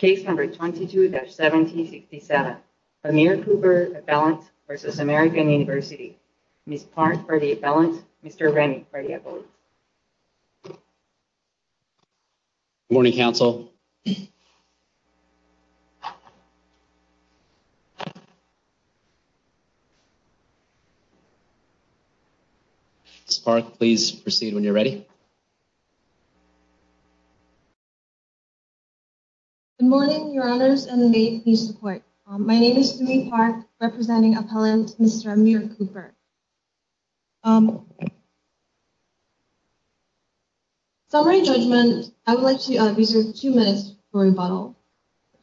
22-1767 Aamir Cooper v. American University Ms. Park for the appellant, Mr. Rennie for the appellant. Good morning, Council. Ms. Park, please proceed when you're ready. Good morning, Your Honors, and may you please support. My name is Sumi Park, representing appellant Mr. Aamir Cooper. Summary judgment, I would like to reserve two minutes for rebuttal.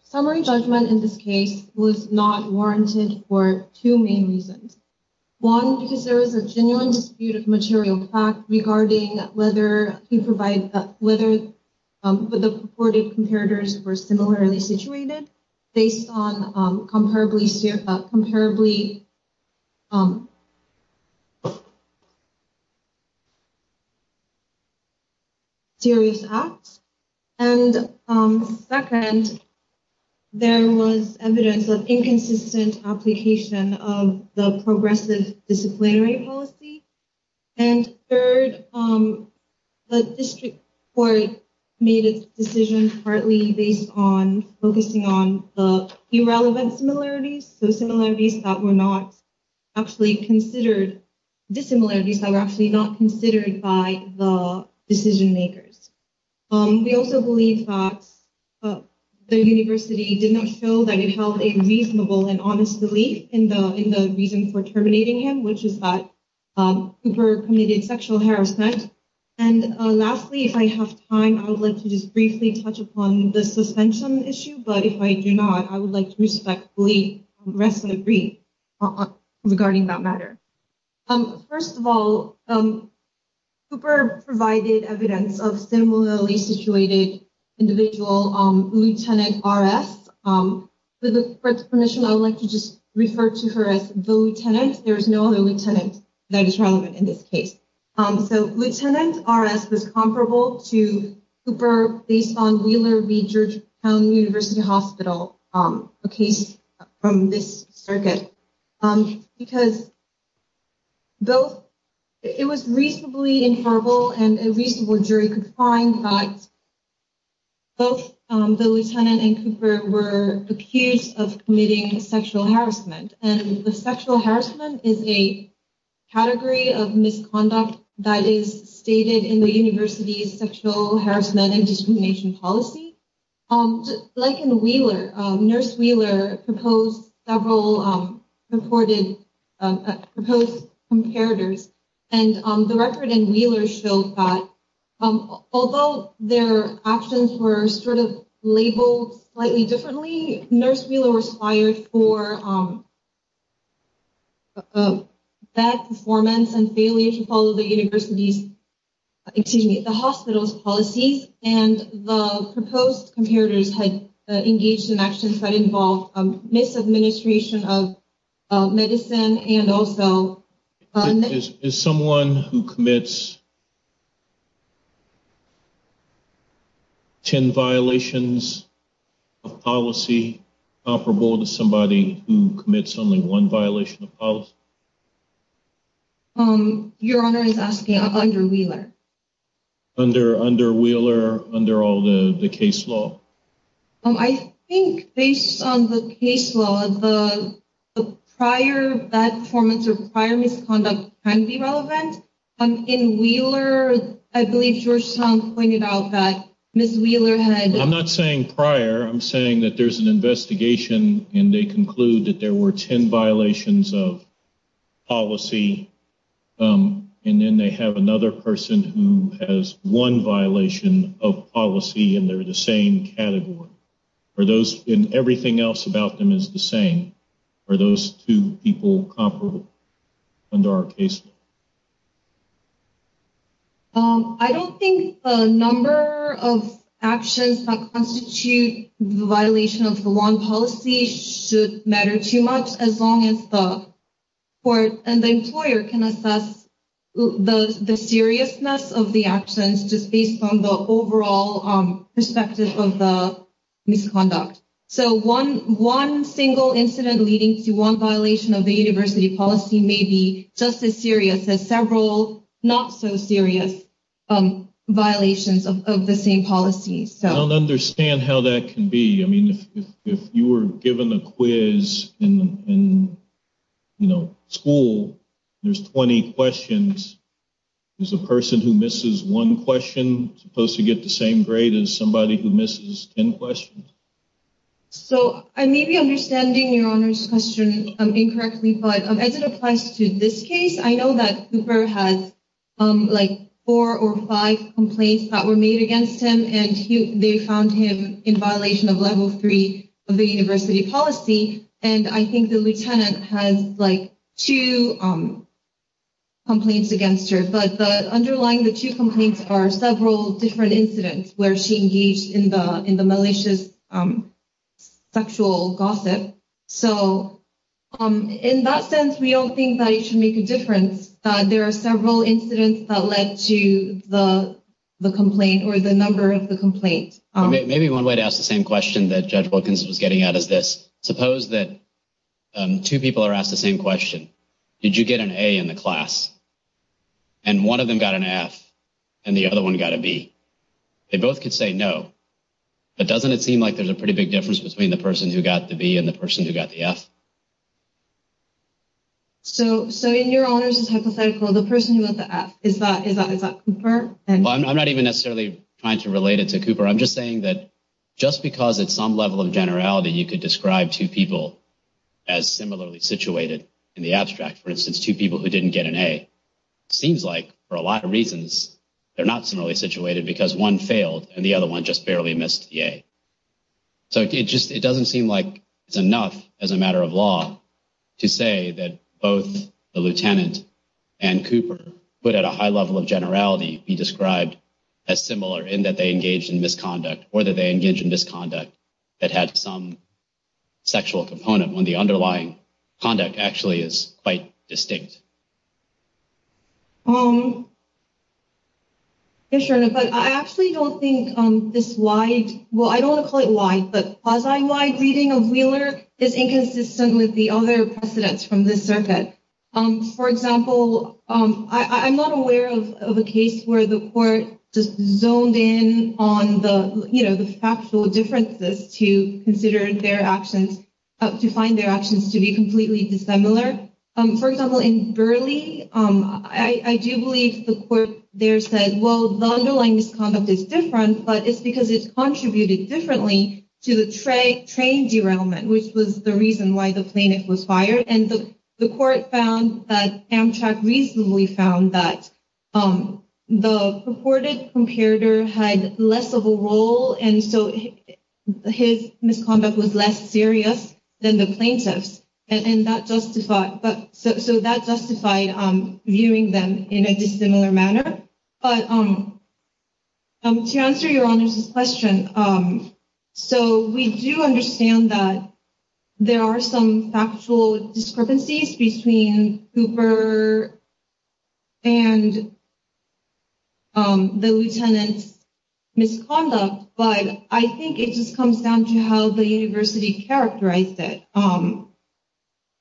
Summary judgment in this case was not warranted for two main reasons. One, because there is a genuine dispute of material fact regarding whether the purported comparators were similarly situated based on comparably serious acts. And second, there was evidence of inconsistent application of the progressive disciplinary policy. And third, the district court made its decision partly based on focusing on the irrelevant similarities, so similarities that were not actually considered, dissimilarities that were actually not considered by the decision makers. We also believe that the university did not show that it held a reasonable and honest belief in the reason for terminating him, which is that Cooper committed sexual harassment. And lastly, if I have time, I would like to just briefly touch upon the suspension issue, but if I do not, I would like to respectfully restate regarding that matter. First of all, Cooper provided evidence of similarly situated individual, Lieutenant R.S. With the permission, I would like to just refer to her as the lieutenant. There is no other lieutenant that is relevant in this case. So, Lieutenant R.S. was comparable to Cooper based on Wheeler v. Georgetown University Hospital, a case from this circuit, because it was reasonably inferable and a reasonable jury could find that both the lieutenant and Cooper were accused of committing sexual harassment. And the sexual harassment is a category of misconduct that is stated in the university's sexual harassment and discrimination policy. Like in Wheeler, Nurse Wheeler proposed several reported, proposed comparators, and the record in Wheeler showed that although their actions were sort of labeled slightly differently, I think Nurse Wheeler was fired for bad performance and failure to follow the university's, excuse me, the hospital's policies, and the proposed comparators had engaged in actions that involved misadministration of medicine and also… Is someone who commits 10 violations of policy comparable to somebody who commits only one violation of policy? Your Honor is asking under Wheeler. Under Wheeler, under all the case law? I think based on the case law, the prior bad performance or prior misconduct can be relevant. In Wheeler, I believe Georgetown pointed out that Ms. Wheeler had… …and they're the same category. Are those, and everything else about them is the same. Are those two people comparable under our case law? I don't think the number of actions that constitute the violation of the one policy should matter too much as long as the court and the employer can assess the seriousness of the actions just based on the overall perspective of the misconduct. So one single incident leading to one violation of the university policy may be just as serious as several not-so-serious violations of the same policy. I don't understand how that can be. I mean, if you were given a quiz in school, there's 20 questions. Is a person who misses one question supposed to get the same grade as somebody who misses 10 questions? So I may be understanding Your Honor's question incorrectly, but as it applies to this case, I know that Cooper has like four or five complaints that were made against him. And they found him in violation of level three of the university policy. And I think the lieutenant has like two complaints against her. But underlying the two complaints are several different incidents where she engaged in the malicious sexual gossip. So in that sense, we don't think that it should make a difference. There are several incidents that led to the complaint or the number of the complaint. Maybe one way to ask the same question that Judge Wilkins was getting at is this. Suppose that two people are asked the same question. Did you get an A in the class? And one of them got an F. And the other one got a B. They both could say no. But doesn't it seem like there's a pretty big difference between the person who got the B and the person who got the F? So in Your Honor's hypothetical, the person who got the F, is that Cooper? I'm not even necessarily trying to relate it to Cooper. I'm just saying that just because at some level of generality you could describe two people as similarly situated in the abstract, for instance, two people who didn't get an A, it seems like, for a lot of reasons, they're not similarly situated because one failed and the other one just barely missed the A. So it doesn't seem like it's enough as a matter of law to say that both the lieutenant and Cooper could, at a high level of generality, be described as similar in that they engaged in misconduct or that they engaged in misconduct that had some sexual component when the underlying conduct actually is quite distinct. Yes, Your Honor, but I actually don't think this wide—well, I don't want to call it wide, but quasi-wide reading of Wheeler is inconsistent with the other precedents from this circuit. For example, I'm not aware of a case where the court just zoned in on the, you know, the factual differences to consider their actions, to find their actions to be completely dissimilar. For example, in Burleigh, I do believe the court there said, well, the underlying misconduct is different, but it's because it's contributed differently to the train derailment, which was the reason why the plaintiff was fired. And the court found that Amtrak reasonably found that the purported comparator had less of a role, and so his misconduct was less serious than the plaintiff's. And that justified—so that justified viewing them in a dissimilar manner. But to answer Your Honor's question, so we do understand that there are some factual discrepancies between Cooper and the lieutenant's misconduct, but I think it just comes down to how the university characterized it.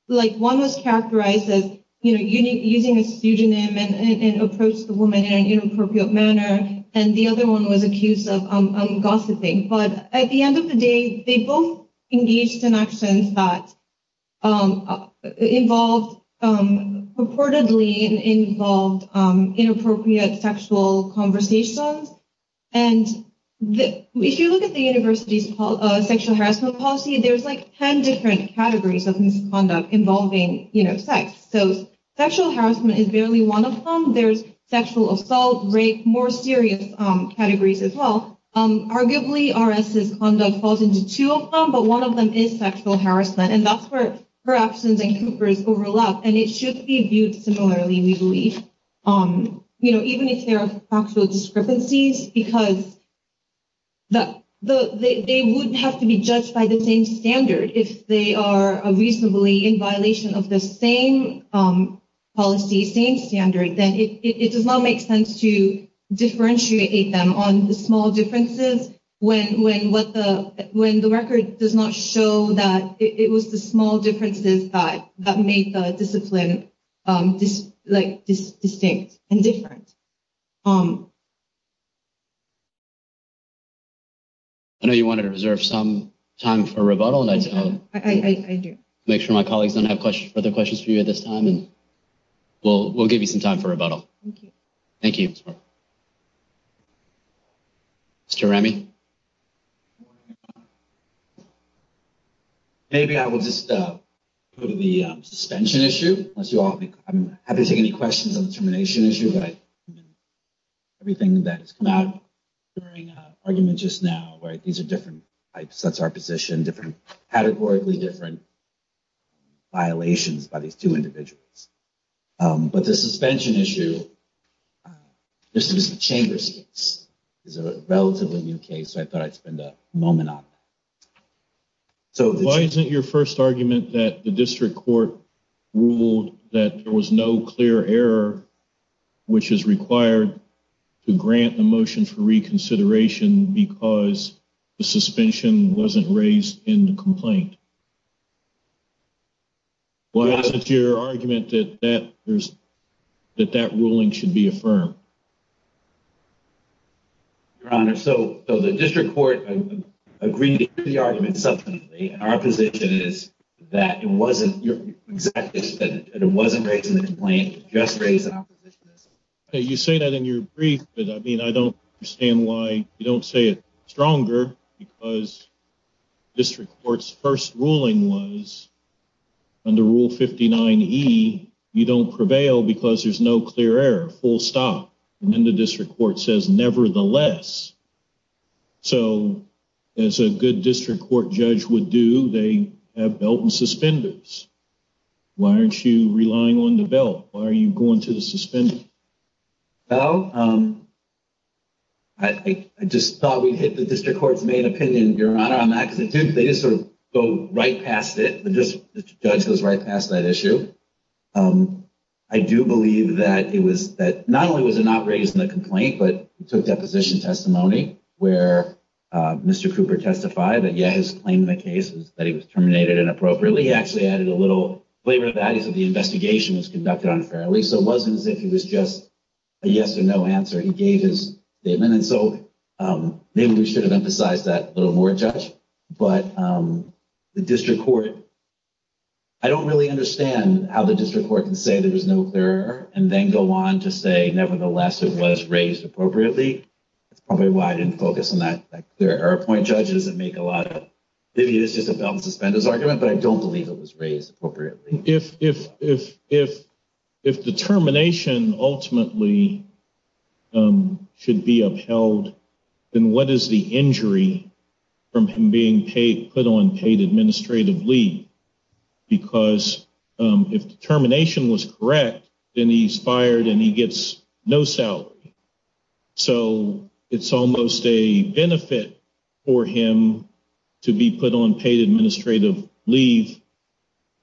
Like, one was characterized as using a pseudonym and approached the woman in an inappropriate manner, and the other one was accused of gossiping. But at the end of the day, they both engaged in actions that involved— purportedly involved inappropriate sexual conversations. And if you look at the university's sexual harassment policy, there's like 10 different categories of misconduct involving sex. So sexual harassment is barely one of them. There's sexual assault, rape, more serious categories as well. Arguably, R.S.'s conduct falls into two of them, but one of them is sexual harassment, and that's where her actions and Cooper's overlap, and it should be viewed similarly, we believe. Even if there are factual discrepancies, because they wouldn't have to be judged by the same standard. If they are reasonably in violation of the same policy, same standard, then it does not make sense to differentiate them on the small differences when the record does not show that it was the small differences that made the discipline distinct and different. I know you wanted to reserve some time for rebuttal. I do. Make sure my colleagues don't have further questions for you at this time, and we'll give you some time for rebuttal. Thank you. Thank you. Thanks, Mark. Mr. Remy? Maybe I will just go to the suspension issue. I'm happy to take any questions on the termination issue, but I agree with everything that has come out during the argument just now. These are different types. That's our position, different categorically, different violations by these two individuals. But the suspension issue, this is the Chamber's case. It's a relatively new case, so I thought I'd spend a moment on it. Why isn't your first argument that the district court ruled that there was no clear error, which is required to grant the motion for reconsideration because the suspension wasn't raised in the complaint? Why isn't your argument that that ruling should be affirmed? Your Honor, so the district court agreed to the argument subsequently, and our position is that it wasn't raised in the complaint, it was just raised in our position. You say that in your brief, but I mean, I don't understand why you don't say it stronger because district court's first ruling was under Rule 59E, you don't prevail because there's no clear error, full stop. And then the district court says, nevertheless. So as a good district court judge would do, they have belt and suspenders. Why aren't you relying on the belt? Why are you going to the suspenders? Well, I just thought we'd hit the district court's main opinion, Your Honor, on that, because they just sort of go right past it. The judge goes right past that issue. I do believe that not only was it not raised in the complaint, but he took deposition testimony where Mr. Cooper testified that, yeah, his claim in the case was that he was terminated inappropriately. He actually added a little flavor to that. So the investigation was conducted unfairly. So it wasn't as if it was just a yes or no answer. He gave his statement. And so maybe we should have emphasized that a little more, Judge. But the district court, I don't really understand how the district court can say there was no clear error and then go on to say, nevertheless, it was raised appropriately. That's probably why I didn't focus on that clear error point, Judge. It doesn't make a lot of sense. Maybe it's just a belt and suspenders argument, but I don't believe it was raised appropriately. If determination ultimately should be upheld, then what is the injury from him being put on paid administrative leave? Because if determination was correct, then he's fired and he gets no salary. So it's almost a benefit for him to be put on paid administrative leave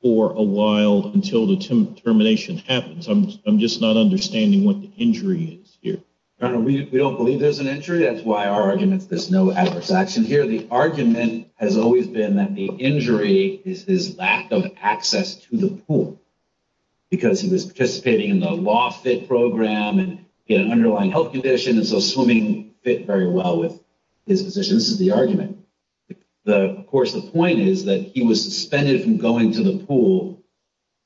for a while until the termination happens. I'm just not understanding what the injury is here. We don't believe there's an injury. That's why our argument is there's no adverse action here. The argument has always been that the injury is his lack of access to the pool because he was participating in the law fit program and he had an underlying health condition, and so swimming fit very well with his position. This is the argument. Of course, the point is that he was suspended from going to the pool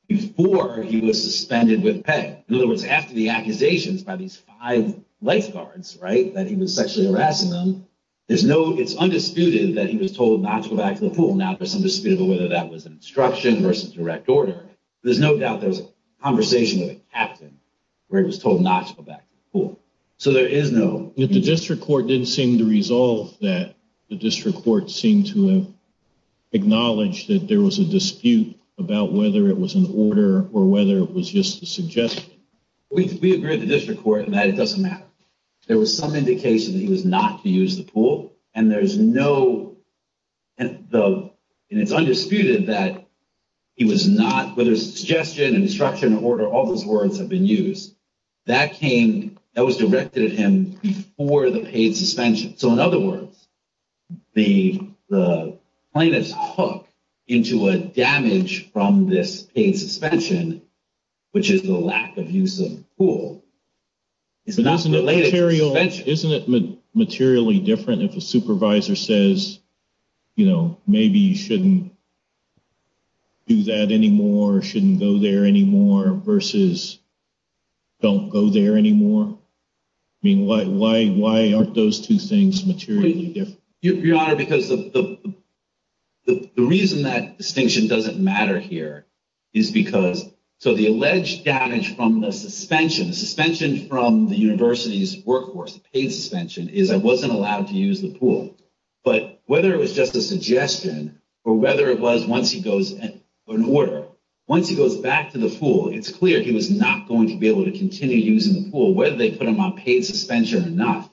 before he was suspended with pay. In other words, after the accusations by these five lifeguards, right, that he was sexually harassing them, it's undisputed that he was told not to go back to the pool. Now there's some dispute over whether that was an instruction versus direct order. There's no doubt there was a conversation with a captain where he was told not to go back to the pool. So there is no— But the district court didn't seem to resolve that. The district court seemed to have acknowledged that there was a dispute about whether it was an order or whether it was just a suggestion. We agreed with the district court that it doesn't matter. There was some indication that he was not to use the pool, and there's no— and it's undisputed that he was not—whether it's a suggestion, an instruction, or order, all those words have been used. That came—that was directed at him before the paid suspension. So in other words, the plaintiff's hook into a damage from this paid suspension, which is the lack of use of the pool, is not related to suspension. Isn't it materially different if a supervisor says, you know, maybe you shouldn't do that anymore, shouldn't go there anymore, versus don't go there anymore? I mean, why aren't those two things materially different? Your Honor, because the reason that distinction doesn't matter here is because— so the alleged damage from the suspension, the suspension from the university's workforce, the paid suspension, is I wasn't allowed to use the pool. But whether it was just a suggestion or whether it was once he goes—or an order, once he goes back to the pool, it's clear he was not going to be able to continue using the pool, whether they put him on paid suspension or not.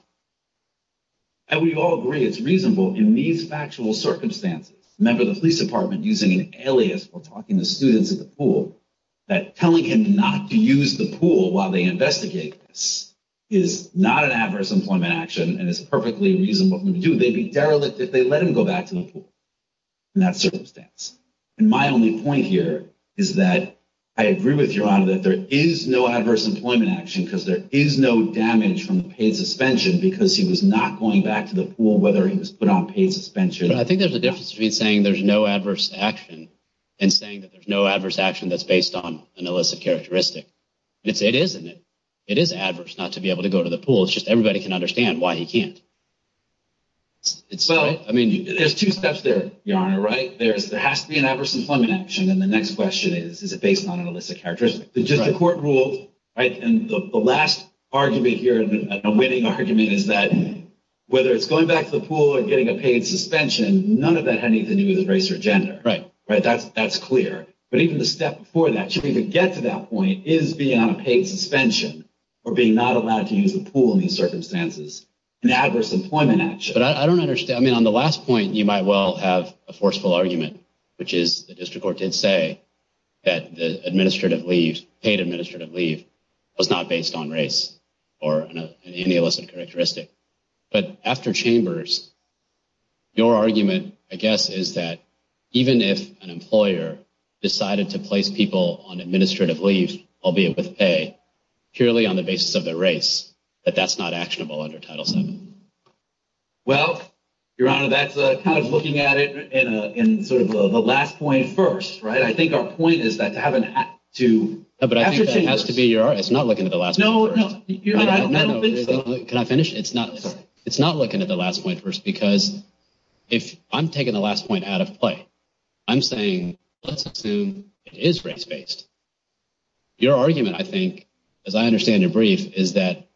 And we all agree it's reasonable in these factual circumstances, remember the police department using an alias for talking to students at the pool, that telling him not to use the pool while they investigate this is not an adverse employment action and is perfectly reasonable for him to do. They'd be derelict if they let him go back to the pool in that circumstance. And my only point here is that I agree with Your Honor that there is no adverse employment action because there is no damage from the paid suspension because he was not going back to the pool whether he was put on paid suspension. I think there's a difference between saying there's no adverse action and saying that there's no adverse action that's based on an illicit characteristic. It is, isn't it? It is adverse not to be able to go to the pool. It's just everybody can understand why he can't. There's two steps there, Your Honor, right? There has to be an adverse employment action. And the next question is, is it based on an illicit characteristic? The district court ruled, right, and the last argument here, a winning argument, is that whether it's going back to the pool or getting a paid suspension, none of that had anything to do with race or gender. Right. That's clear. But even the step before that, should we even get to that point, is being on a paid suspension or being not allowed to use the pool in these circumstances an adverse employment action? But I don't understand. I mean, on the last point, you might well have a forceful argument, which is the district court did say that the administrative leave, paid administrative leave, was not based on race or any illicit characteristic. But after Chambers, your argument, I guess, is that even if an employer decided to place people on administrative leave, albeit with pay, purely on the basis of their race, that that's not actionable under Title VII. Well, Your Honor, that's kind of looking at it in sort of the last point first. Right? I think our point is that to have an act to after Chambers. But I think that has to be your argument. It's not looking at the last point first. No, no. Your Honor, I don't think so. Can I finish? It's not looking at the last point first because if I'm taking the last point out of play, I'm saying let's assume it is race-based. Your argument, I think, as I understand your brief, is that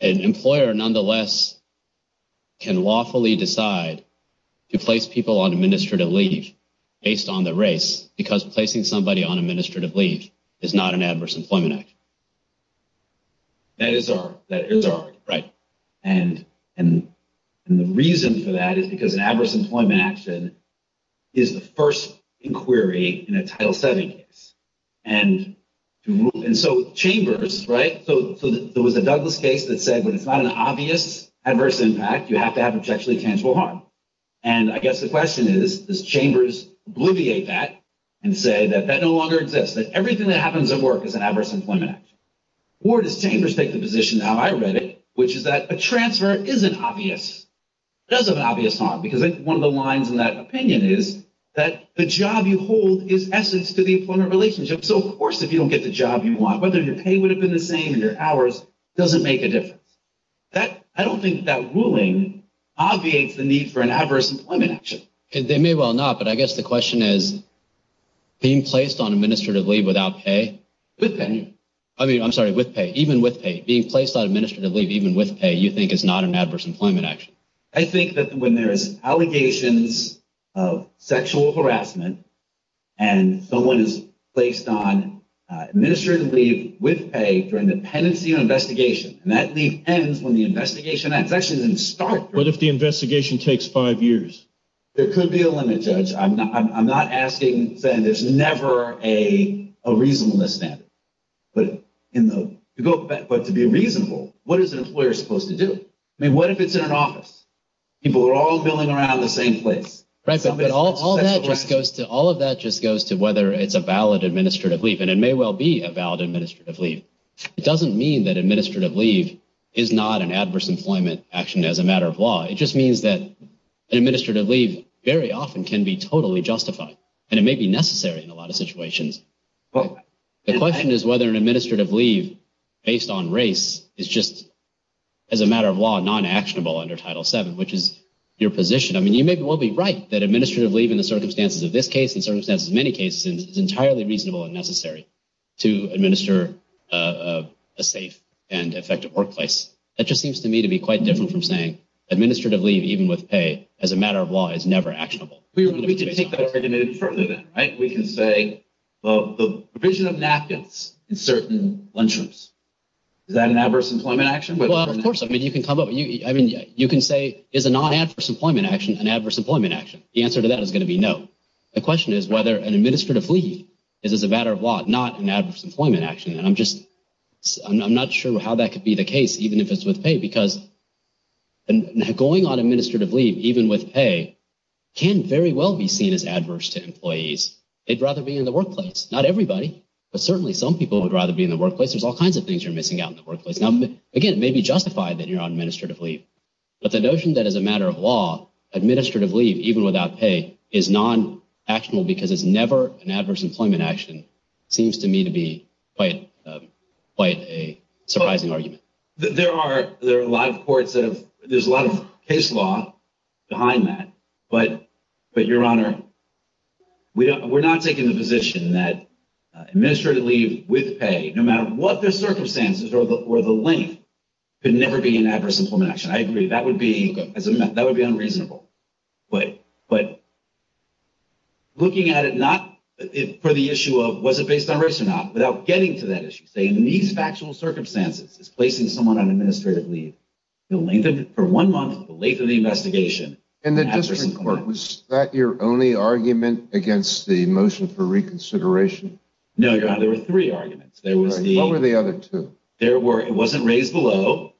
an employer, nonetheless, can lawfully decide to place people on administrative leave based on their race because placing somebody on administrative leave is not an adverse employment action. That is our argument. Right. And the reason for that is because an adverse employment action is the first inquiry in a Title VII case. And so Chambers—right? So there was a Douglas case that said when it's not an obvious adverse impact, you have to have objectively tangible harm. And I guess the question is, does Chambers obliviate that and say that that no longer exists, that everything that happens at work is an adverse employment action? Or does Chambers take the position, how I read it, which is that a transfer isn't obvious. It does have an obvious harm because one of the lines in that opinion is that the job you hold is essence to the employment relationship. So, of course, if you don't get the job you want, whether your pay would have been the same and your hours, it doesn't make a difference. I don't think that ruling obviates the need for an adverse employment action. They may well not, but I guess the question is being placed on administrative leave without pay, with pay. I mean, I'm sorry, with pay. Even with pay. Being placed on administrative leave even with pay you think is not an adverse employment action. I think that when there is allegations of sexual harassment and someone is placed on administrative leave with pay during the pendency investigation, and that leave ends when the investigation ends. It actually doesn't start. What if the investigation takes five years? There could be a limit, Judge. I'm not asking, saying there's never a reasonableness standard. But to be reasonable, what is an employer supposed to do? I mean, what if it's in an office? People are all milling around in the same place. Right, but all of that just goes to whether it's a valid administrative leave, and it may well be a valid administrative leave. It doesn't mean that administrative leave is not an adverse employment action as a matter of law. It just means that an administrative leave very often can be totally justified, and it may be necessary in a lot of situations. The question is whether an administrative leave based on race is just, as a matter of law, non-actionable under Title VII, which is your position. I mean, you may well be right that administrative leave in the circumstances of this case and the circumstances of many cases is entirely reasonable and necessary to administer a safe and effective workplace. That just seems to me to be quite different from saying administrative leave, even with pay, as a matter of law, is never actionable. We can take that argument further, then, right? We can say, well, the provision of napkins in certain lunchrooms, is that an adverse employment action? Well, of course. I mean, you can say, is a non-adverse employment action an adverse employment action? The answer to that is going to be no. The question is whether an administrative leave is, as a matter of law, not an adverse employment action. And I'm just not sure how that could be the case, even if it's with pay, because going on administrative leave, even with pay, can very well be seen as adverse to employees. They'd rather be in the workplace. Not everybody, but certainly some people would rather be in the workplace. There's all kinds of things you're missing out in the workplace. Now, again, it may be justified that you're on administrative leave, but the notion that, as a matter of law, administrative leave, even without pay, is non-actionable because it's never an adverse employment action seems to me to be quite a surprising argument. There are a lot of courts that have – there's a lot of case law behind that. But, Your Honor, we're not taking the position that administrative leave with pay, no matter what the circumstances or the length, could never be an adverse employment action. I agree, that would be unreasonable. But looking at it not for the issue of was it based on race or not, without getting to that issue, saying in these factual circumstances, it's placing someone on administrative leave, the length of it for one month, the length of the investigation. And the district court, was that your only argument against the motion for reconsideration? No, Your Honor, there were three arguments. What were the other two? It wasn't raised below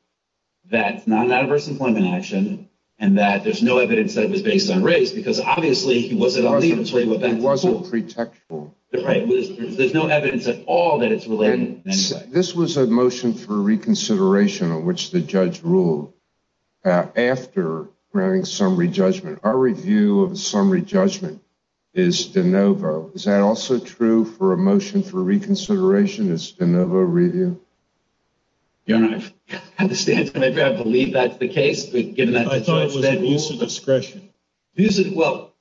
that it's not an adverse employment action and that there's no evidence that it was based on race because, obviously, he wasn't on leave. It wasn't pretextual. There's no evidence at all that it's related. This was a motion for reconsideration on which the judge ruled after granting summary judgment. Our review of a summary judgment is de novo. Is that also true for a motion for reconsideration, a de novo review? Your Honor, I believe that's the case. I thought it was abuse of discretion. Well,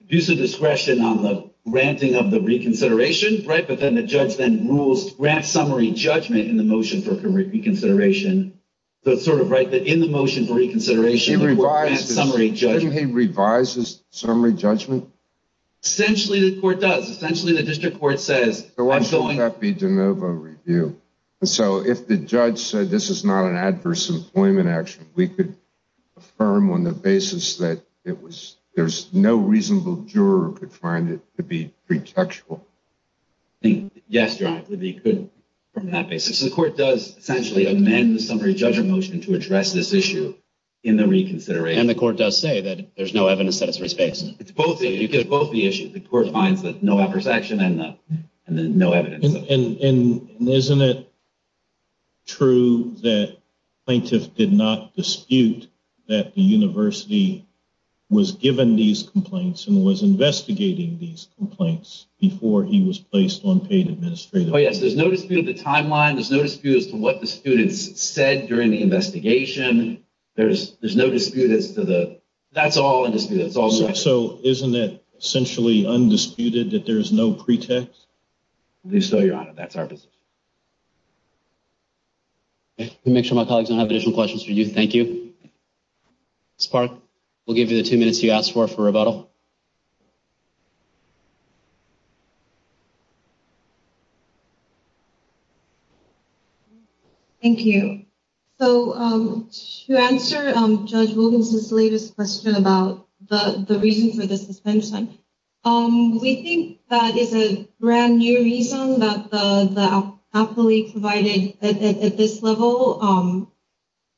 abuse of discretion on the granting of the reconsideration, right, but then the judge then grants summary judgment in the motion for reconsideration. So it's sort of right that in the motion for reconsideration, the court grants summary judgment. Doesn't he revise his summary judgment? Essentially, the court does. Why should that be de novo review? So if the judge said this is not an adverse employment action, we could affirm on the basis that there's no reasonable juror who could find it to be pretextual. Yes, Your Honor, we could affirm on that basis. The court does essentially amend the summary judgment motion to address this issue in the reconsideration. And the court does say that there's no evidence that it's based. You get both the issues. The court finds that no adverse action and then no evidence. And isn't it true that plaintiff did not dispute that the university was given these complaints and was investigating these complaints before he was placed on paid administrative leave? Oh, yes, there's no dispute of the timeline. There's no dispute as to what the students said during the investigation. There's no dispute as to the – that's all in dispute. So isn't it essentially undisputed that there is no pretext? At least so, Your Honor, that's our position. Let me make sure my colleagues don't have additional questions for you. Thank you. Ms. Park, we'll give you the two minutes you asked for for rebuttal. Thank you. Okay. So to answer Judge Wilkinson's latest question about the reason for the suspension, we think that is a brand new reason that the appellee provided at this level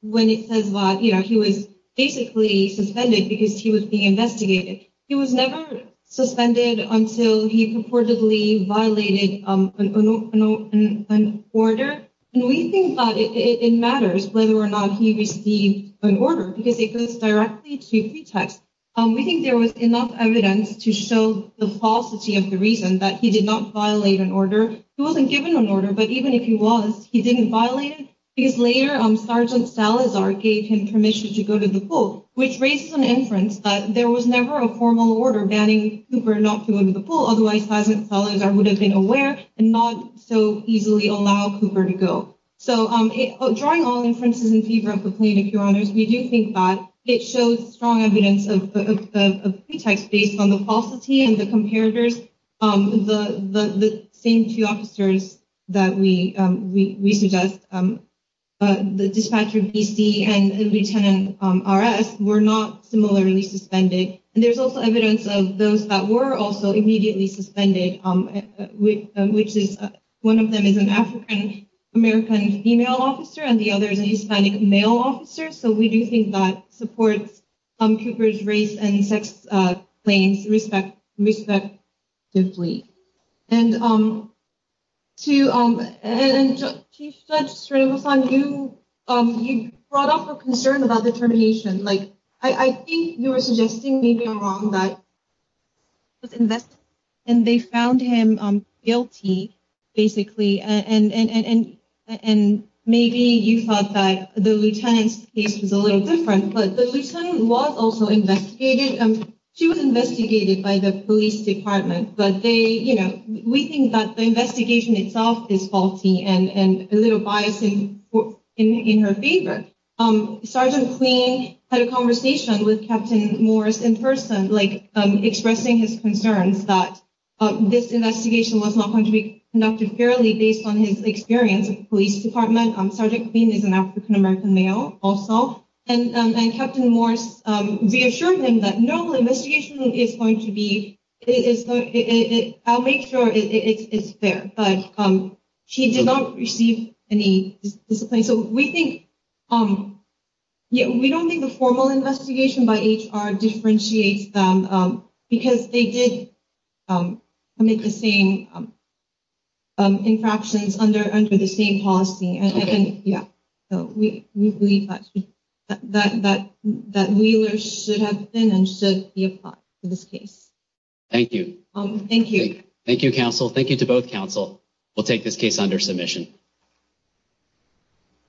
when it says, well, you know, he was basically suspended because he was being investigated. He was never suspended until he purportedly violated an order. And we think that it matters whether or not he received an order because it goes directly to pretext. We think there was enough evidence to show the falsity of the reason that he did not violate an order. He wasn't given an order, but even if he was, he didn't violate it. Because later, Sergeant Salazar gave him permission to go to the pool, which raised some inference that there was never a formal order banning Cooper not to go to the pool. Otherwise, Sergeant Salazar would have been aware and not so easily allow Cooper to go. So drawing all inferences in favor of the plaintiff, Your Honors, we do think that it shows strong evidence of pretext based on the falsity and the comparators. The same two officers that we suggest, the dispatcher, B.C., and Lieutenant R.S., were not similarly suspended. And there's also evidence of those that were also immediately suspended, which is one of them is an African-American female officer and the other is a Hispanic male officer. So we do think that supports Cooper's race and sex claims respect, respectfully. And Chief Judge Srinivasan, you brought up a concern about determination. Like, I think you were suggesting maybe you're wrong that he was investigated and they found him guilty, basically. And maybe you thought that the lieutenant's case was a little different, but the lieutenant was also investigated. She was investigated by the police department, but they, you know, we think that the investigation itself is faulty and a little bias in her favor. Sergeant Queen had a conversation with Captain Morris in person, like expressing his concerns that this investigation was not going to be conducted fairly based on his experience with the police department. Sergeant Queen is an African-American male also. And Captain Morris reassured him that normal investigation is going to be, I'll make sure it's fair. But she did not receive any discipline. And so we think, we don't think the formal investigation by HR differentiates them, because they did commit the same infractions under the same policy. So we believe that Wheeler should have been and should be applied to this case. Thank you. Thank you. Thank you, counsel. Thank you to both counsel. We'll take this case under submission.